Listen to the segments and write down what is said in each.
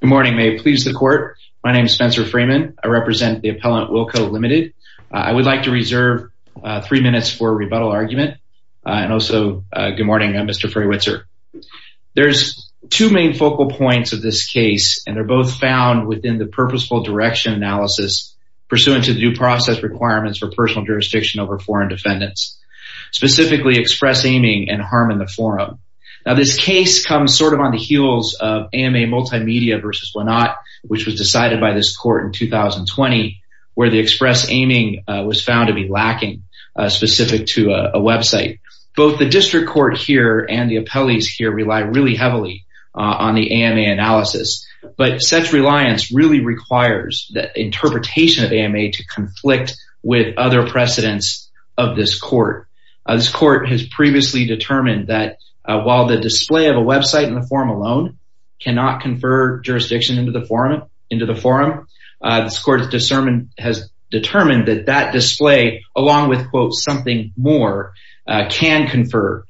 Good morning. May it please the court. My name is Spencer Freeman. I represent the appellant Wilco, Ltd. I would like to reserve three minutes for a rebuttal argument and also good morning Mr. Freywitzer. There's two main focal points of this case and they're both found within the purposeful direction analysis pursuant to the due process requirements for personal jurisdiction over foreign defendants, specifically express aiming and harm in the forum. Now this case comes sort of on the heels of AMA Multimedia v. Lenat, which was decided by this court in 2020, where the express aiming was found to be lacking specific to a website. Both the district court here and the appellees here rely really heavily on the AMA analysis, but such reliance really requires that interpretation of AMA to conflict with other precedents of this of a website in the forum alone cannot confer jurisdiction into the forum. This court's discernment has determined that that display along with quote something more can confer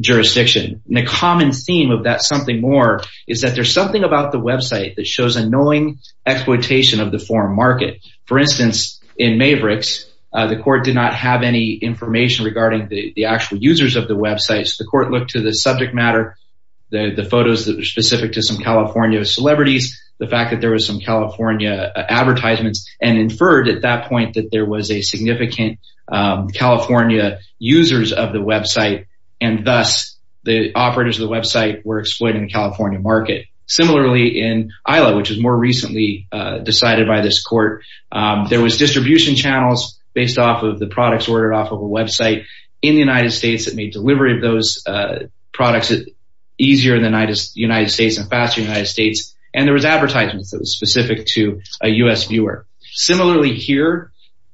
jurisdiction. The common theme of that something more is that there's something about the website that shows annoying exploitation of the forum market. For instance, in Mavericks, the court did not have any information regarding the actual users of the websites. The court looked to the matter, the photos that were specific to some California celebrities, the fact that there was some California advertisements and inferred at that point that there was a significant California users of the website. And thus, the operators of the website were exploiting the California market. Similarly, in ILA, which was more recently decided by this court, there was distribution channels based off of the products ordered off of a website in the United States that made delivery of those products easier in the United States and faster United States. And there was advertisements that was specific to a US viewer. Similarly here,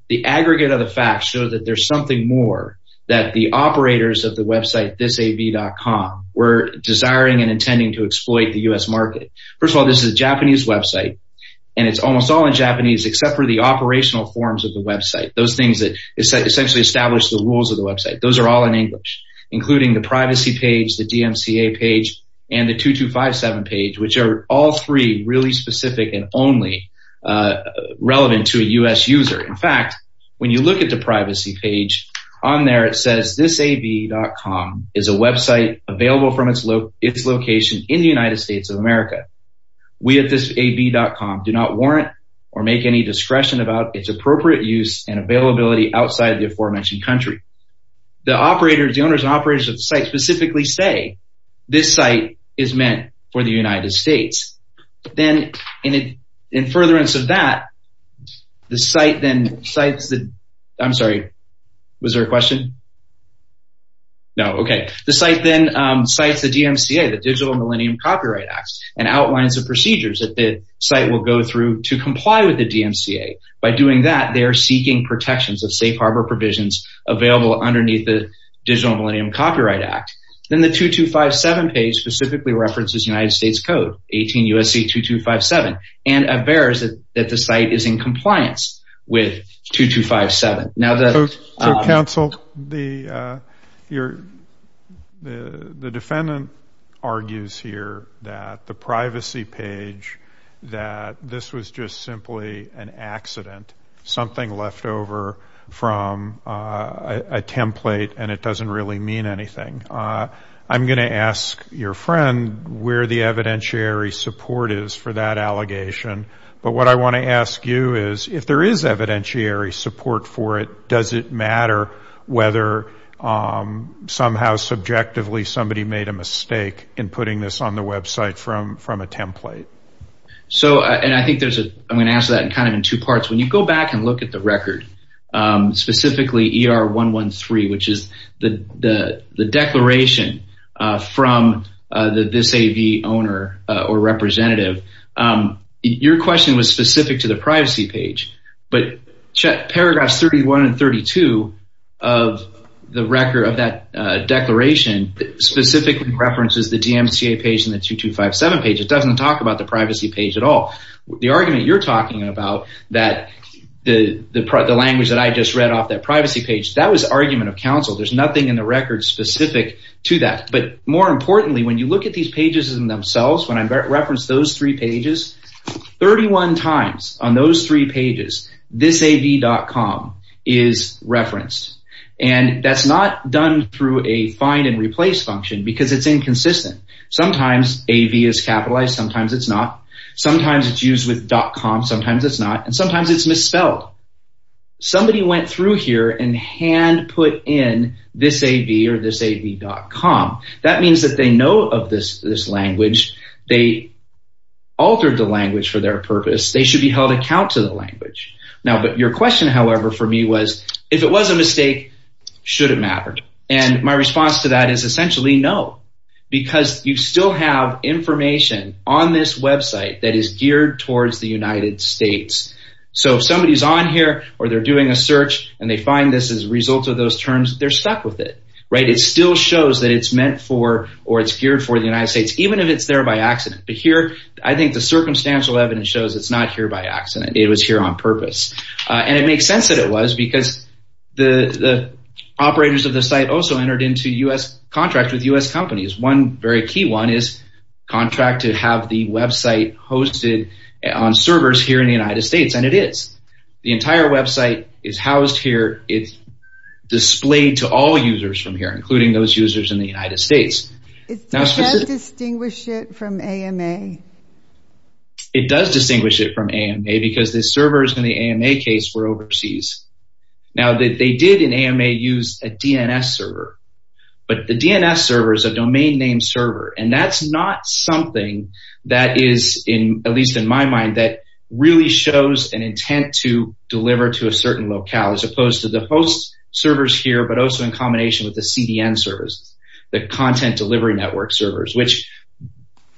the aggregate of the facts show that there's something more that the operators of the website thisav.com were desiring and intending to exploit the US market. First of all, this is a Japanese website. And it's almost all in Japanese except for the operational forms of the website. Those things that essentially establish the rules of the website. Those are all in English, including the privacy page, the DMCA page, and the 2257 page, which are all three really specific and only relevant to a US user. In fact, when you look at the privacy page on there, it says thisav.com is a website available from its location in the United States of America. We at thisav.com do not warrant or make any discretion about its appropriate use and availability outside of the aforementioned country. The operators, the owners and operators of the site specifically say this site is meant for the United States. Then in furtherance of that, the site then cites the... I'm sorry, was there a question? No, okay. The site then cites the DMCA, the Digital Millennium Copyright Act, and outlines the procedures that the site will go through to comply with the DMCA. By doing that, they are seeking protections of safe harbor provisions available underneath the Digital Millennium Copyright Act. Then the 2257 page specifically references United States Code, 18 U.S.C. 2257, and avers that the site is in compliance with 2257. Now the... So counsel, the defendant argues here that the privacy page, that this was just simply an accident, something left over from a template and it doesn't really mean anything. I'm going to ask your friend where the evidentiary support is for that allegation, but what I want to ask you is if there is evidentiary support for it, does it matter whether somehow subjectively somebody made a mistake in putting this on the website from a template? So, and I think there's a... I'm going to answer that in kind of in two parts. When you go back and look at the record, specifically ER 113, which is the declaration from this AV owner or representative, your question was specific to the privacy page, but paragraphs 31 and 32 of the record of that declaration specifically references the DMCA page and the 2257 page. It doesn't talk about the privacy page at all. The argument you're talking about, that the language that I just read off that privacy page, that was argument of counsel. There's nothing in the record specific to that, but more importantly, when you look at these pages in themselves, when I reference those three pages, 31 times on those three pages, thisav.com is referenced and that's not done through a find and replace function because it's inconsistent. Sometimes AV is capitalized, sometimes it's not. Sometimes it's used with .com, sometimes it's not, and sometimes it's misspelled. Somebody went through here and hand put in thisav or thisav.com. That means that they know of this language. They altered the language for their purpose. They should be held account to the language. Now, but your question, however, for me was if it was a mistake, should it matter? My response to that is essentially no, because you still have information on this website that is geared towards the United States. So if somebody's on here or they're doing a search and they find this as a result of those terms, they're stuck with it. It still shows that it's meant for or it's geared for the United States, even if it's there by accident. But here, I think the circumstantial evidence shows it's not here by accident. It was here on purpose. And it makes sense that it was because the operators of the site also entered into U.S. contracts with U.S. companies. One very key one is contract to have the website hosted on servers here in the United States, and it is. The entire website is housed here. It's displayed to all users from here, including those users in the United States. It does distinguish it from AMA. It does distinguish it from AMA because the servers in the AMA case were overseas. Now, they did in AMA use a DNS server, but the DNS server is a domain name server. And that's not something that is in, at least in my mind, that really shows an intent to deliver to a certain locale as opposed to the host servers here, but also in combination with the CDN servers, the content delivery network servers, which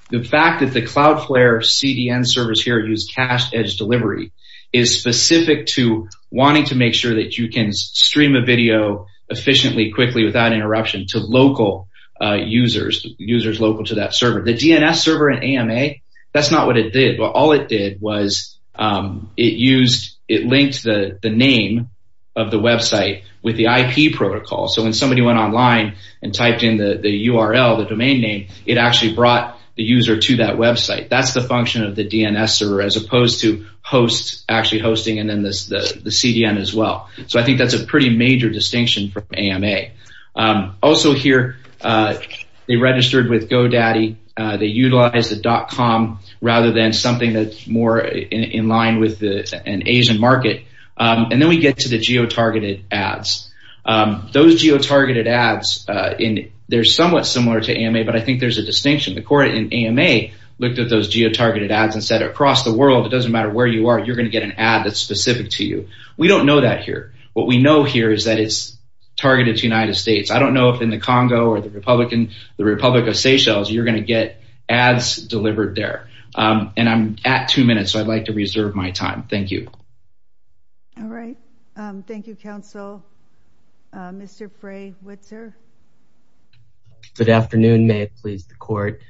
the fact that the CloudFlare CDN servers here use cached edge delivery is specific to wanting to make sure that you can stream a video efficiently, quickly, without interruption to local users, users local to that server. The DNS server in AMA, that's not what it did, but all it did was it used, it linked the name of the website with the IP protocol. So when somebody went online and typed in the URL, the domain name, it actually brought the user to that website. That's the function of the DNS server as opposed to hosts actually hosting and then the CDN as well. So I think that's a pretty major distinction from AMA. Also here, they registered with GoDaddy. They utilized the .com rather than something that's more in line with an Asian market. And then we get to the geotargeted ads. Those geotargeted ads, they're somewhat similar to AMA, but I think there's a distinction. The court in AMA looked at those geotargeted ads and said, across the world, it doesn't matter where you are, you're going to get an ad that's specific to you. We don't know that here. What we know here is that it's targeted to the United States. I don't know if in the Congo or the Republic of Seychelles, you're going to get ads delivered there. And I'm at two minutes, so I'd like to reserve my time. Thank you. All right. Thank you, counsel. Mr. Frey-Witzer. Good afternoon. May it please the court.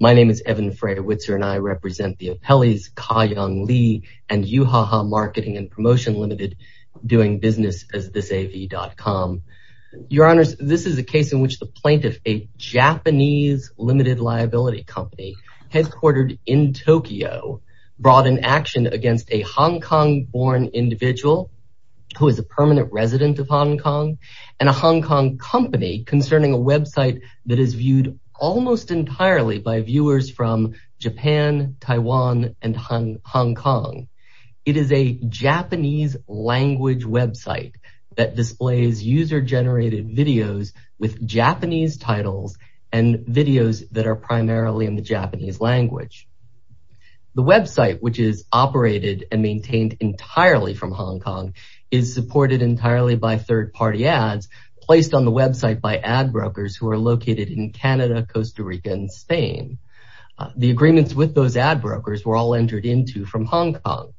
My name is Evan Frey-Witzer and I represent the appellees Ka Young Lee and Yuhaha Marketing and Promotion Limited doing business as ThisAV.com. Your honors, this is a case in which the plaintiff, a Japanese limited liability company headquartered in Tokyo, brought an action against a Hong Kong born individual who is a permanent resident of Hong Kong and a Hong Kong company concerning a website that is viewed almost entirely by viewers from Japan, Taiwan and Hong Kong. It is a Japanese language website that displays user generated videos with Japanese titles and videos that are primarily in the Japanese language. The website, which is operated and maintained entirely from Hong Kong, is supported entirely by third party ads placed on the website by ad brokers who are located in Canada, Costa Rica and Spain. The agreements with those ad brokers were all entered into from Hong Kong.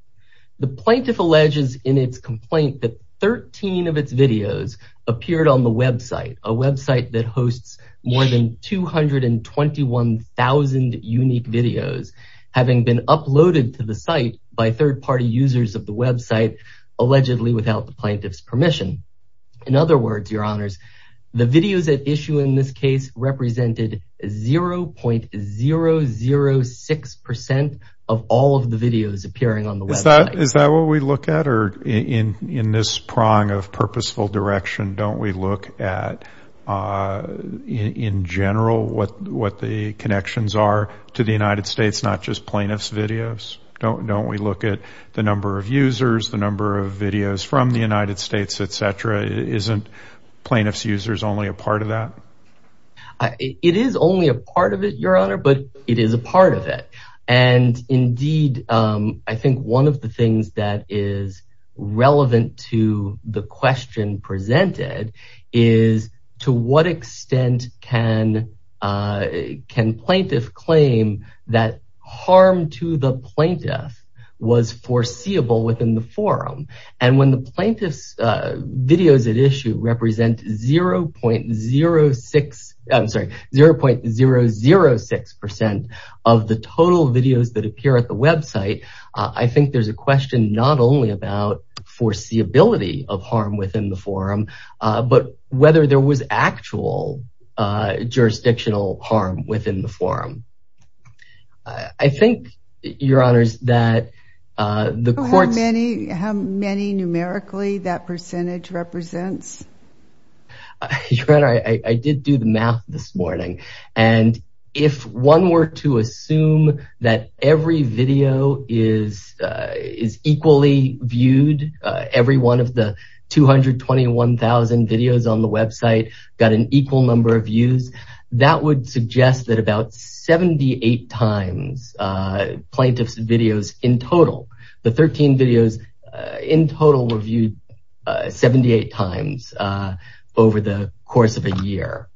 The plaintiff alleges in its complaint that 13 of its videos appeared on the website, a website that hosts more than 221,000 unique videos, having been uploaded to the site by third party users of the website, allegedly without the plaintiff's permission. In other words, your honors, the videos at issue in this case represented 0.006% of all of the videos appearing on the website. Is that what we look at? Or in this prong of purposeful direction, don't we look at in general what the connections are to the United States, not just plaintiff's videos? Don't we look at the number of users, the number of videos from the United States, etc. Isn't plaintiff's users only a part of that? It is only a part of it, your honor, but it is a part of it. And indeed, I think one of the things that is relevant to the question presented is to what extent can plaintiff claim that harm to the plaintiff was foreseeable within the forum. And when the plaintiff's videos at issue represent 0.06, I'm sorry, 0.006% of the total videos that appear at the website, I think there's a question not only about foreseeability of harm within the forum, but whether there was actual jurisdictional harm within the forum. I think, your honors, that the court's... How many numerically that percentage represents? Your honor, I did do the math this morning. And if one were to assume that every video is equally viewed, every one of the 221,000 videos on the website got an equal number of views, that would suggest that about 78 times plaintiff's videos in total, the 13 videos in total were viewed 78 times over the course of a year.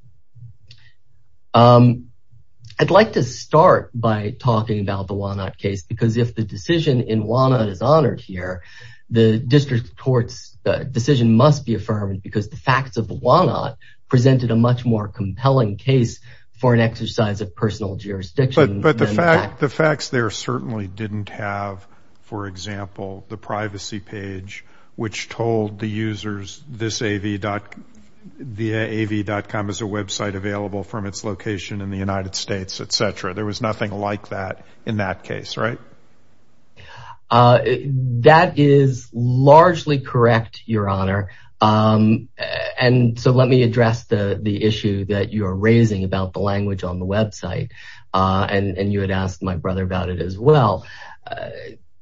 I'd like to start by talking about the Walnut case because if the decision in Walnut is honored here, the district court's decision must be affirmed because the facts of the Walnut presented a much more compelling case for an exercise of personal jurisdiction. But the facts there certainly didn't have, for example, the privacy page which told the users this av.com is a website available from its location in the United States, etc. There was nothing like that in that case, right? Correct. That is largely correct, your honor. And so let me address the issue that you're raising about the language on the website. And you had asked my brother about it as well.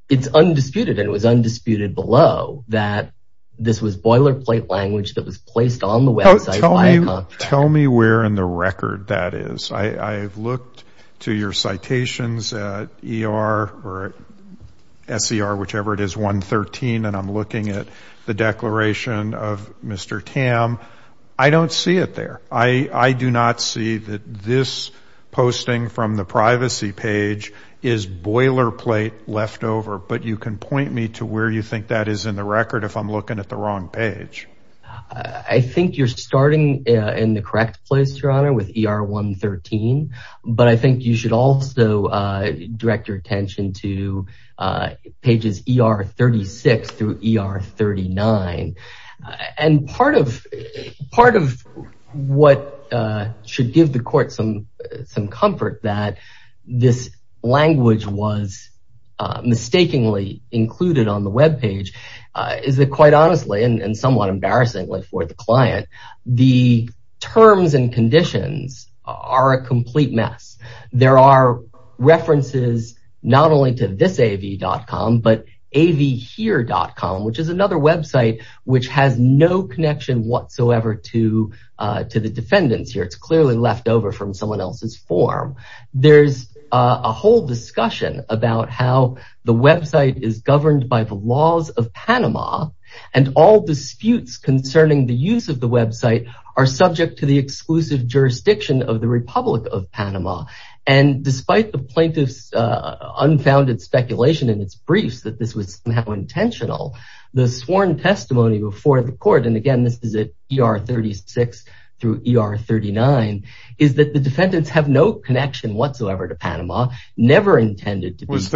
It's undisputed, and it was undisputed below that this was boilerplate language that was placed on the website. Tell me where in the record that is. I've looked to your citations at ER or SCR, whichever it is, 113, and I'm looking at the declaration of Mr. Tam. I don't see it there. I do not see that this posting from the privacy page is boilerplate left over, but you can point me to where you think that is in the record if I'm looking at the wrong page. I think you're starting in the correct place, your honor, with ER 113, but I think you should also direct your attention to pages ER 36 through ER 39. And part of what should give the court some comfort that this language was mistakenly included on the webpage is that quite honestly, and somewhat embarrassingly for the client, the terms and conditions are a complete mess. There are references not only to this av.com, but avhere.com, which is another website which has no connection whatsoever to the defendants here. It's clearly left over from someone else's form. There's a whole discussion about how the website is governed by the laws of Panama, and all disputes concerning the use of the website are subject to the exclusive jurisdiction of the Republic of Panama. And despite the plaintiff's unfounded speculation in its briefs that this was somehow intentional, the sworn testimony before the court, and again, this is at ER 36 through ER 39, is that the defendants have no connection whatsoever to Panama, never intended to be. Was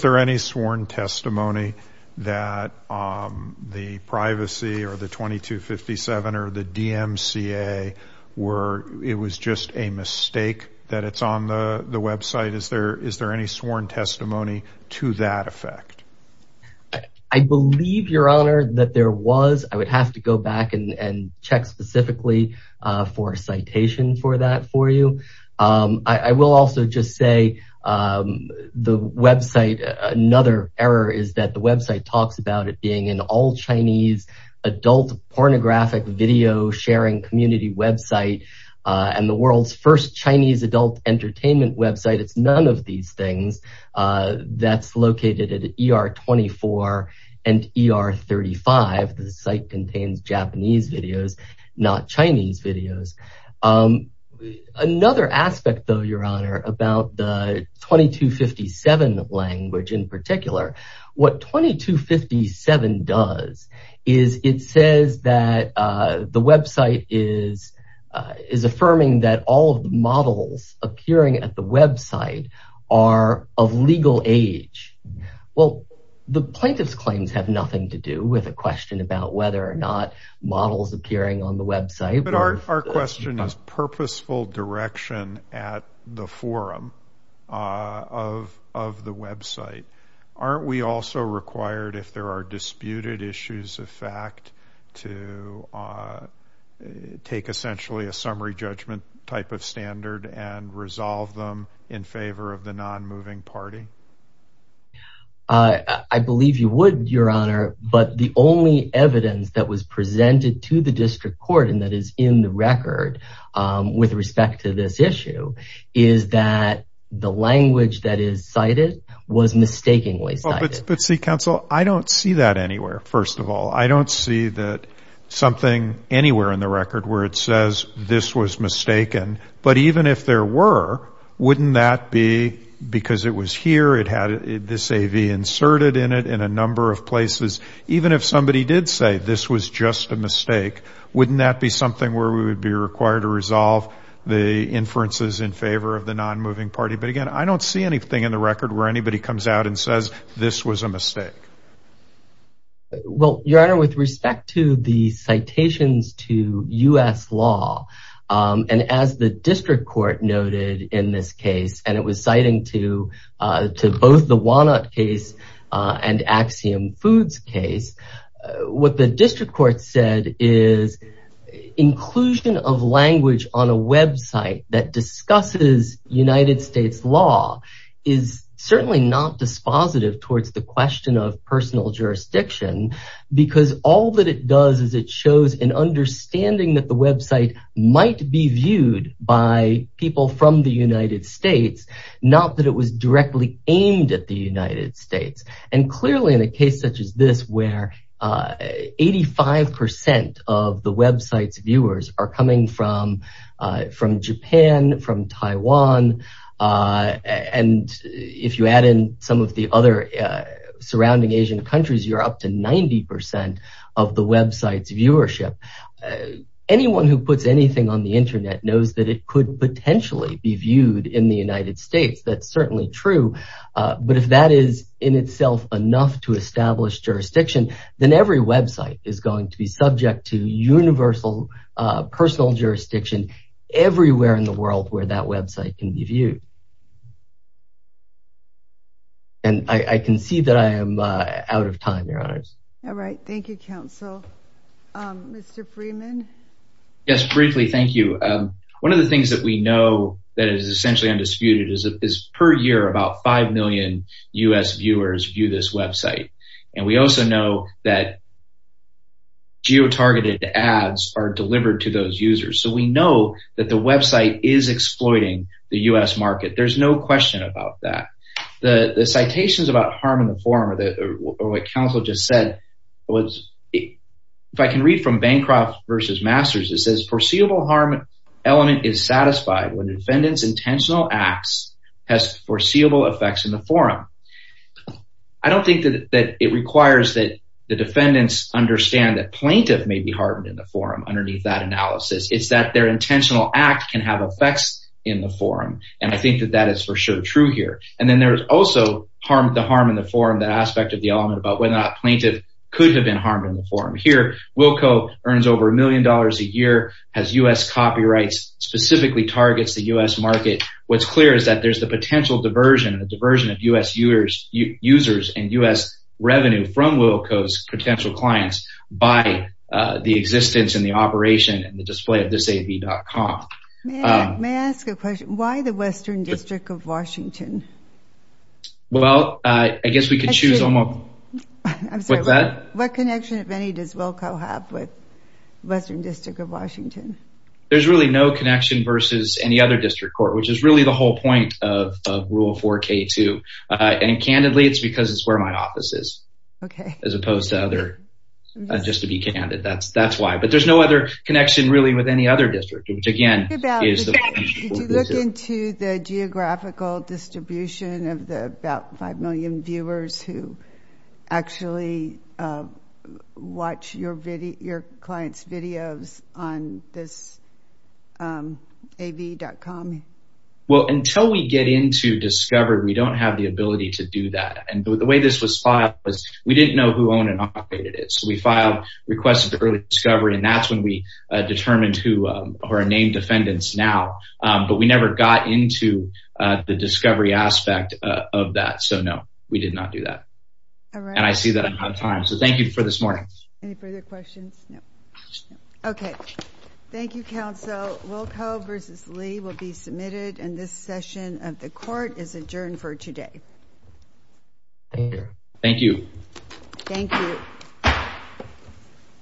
there any sworn testimony that the privacy or the 2257 or the DMCA were, it was just a mistake that it's on the website? Is there any sworn testimony to that effect? I believe, your honor, that there was. I would have to go back and check specifically for a citation for that for you. I will also just say the website, another error, is that the website talks about it being an all-Chinese adult pornographic video sharing community website, and the world's first Chinese adult entertainment website. It's none of these videos. Another aspect though, your honor, about the 2257 language in particular, what 2257 does is it says that the website is affirming that all of the models appearing at the website are of legal age. Well, the plaintiff's claims have nothing to do with a question about whether or not models appearing on the website. But our question is purposeful direction at the forum of the website. Aren't we also required if there are disputed issues of fact to take essentially a summary judgment type of standard and resolve them in favor of the presented to the district court and that is in the record with respect to this issue, is that the language that is cited was mistakenly cited? But see, counsel, I don't see that anywhere, first of all. I don't see that something anywhere in the record where it says this was mistaken. But even if there were, wouldn't that be because it was here, it had this AV inserted in it in a just a mistake. Wouldn't that be something where we would be required to resolve the inferences in favor of the non-moving party? But again, I don't see anything in the record where anybody comes out and says this was a mistake. Well, your honor, with respect to the citations to U.S. law and as the district court noted in this case, and it was citing to both the Walnut case and the district court said is inclusion of language on a website that discusses United States law is certainly not dispositive towards the question of personal jurisdiction because all that it does is it shows an understanding that the website might be viewed by people from the United States, not that it was directly aimed at the United States. And clearly in a case such as this where 85% of the website's viewers are coming from Japan, from Taiwan, and if you add in some of the other surrounding Asian countries, you're up to 90% of the website's viewership. Anyone who puts anything on the internet knows that it could potentially be viewed in the United States, that's certainly true. But if that is in itself enough to establish jurisdiction, then every website is going to be subject to universal personal jurisdiction everywhere in the world where that website can be viewed. And I can see that I am out of time, your honors. All right, thank you, counsel. Mr. Freeman? Yes, briefly, thank you. One of the things that we know that is essentially undisputed is per year about 5 million U.S. viewers view this website. And we also know that geo-targeted ads are delivered to those users. So we know that the website is exploiting the U.S. market. There's no question about that. The citations about harm in the form of what counsel just said, if I can read from Bancroft versus Masters, it says, foreseeable harm element is satisfied when defendant's intentional acts has foreseeable effects in the forum. I don't think that it requires that the defendants understand that plaintiff may be harmed in the forum underneath that analysis. It's that their intentional act can have effects in the forum. And I think that that is for sure true here. And then there's also the harm in the forum, that aspect of the element about whether or not plaintiff could have been harmed in the forum. Here, Wilco earns over a billion dollars in U.S. copyrights, specifically targets the U.S. market. What's clear is that there's the potential diversion, the diversion of U.S. users and U.S. revenue from Wilco's potential clients by the existence and the operation and the display of this AV.com. May I ask a question? Why the Western District of Washington? Well, I guess we could choose. What connection, if any, does Wilco have with the Western District of Washington? There's really no connection versus any other district court, which is really the whole point of Rule 4K2. And candidly, it's because it's where my office is. Okay. As opposed to other, just to be candid, that's why. But there's no other connection really with any other district, which again is the... Did you look into the geographical distribution of the about 5 million viewers who actually watch your client's videos on this AV.com? Well, until we get into discovery, we don't have the ability to do that. And the way this was filed was we didn't know who owned and operated it. So we filed requests for early discovery, and that's when we determined who are named defendants now. But we never got into the that. And I see that I'm out of time. So thank you for this morning. Any further questions? No. Okay. Thank you, counsel. Wilco versus Lee will be submitted, and this session of the court is adjourned for today. Thank you. Thank you.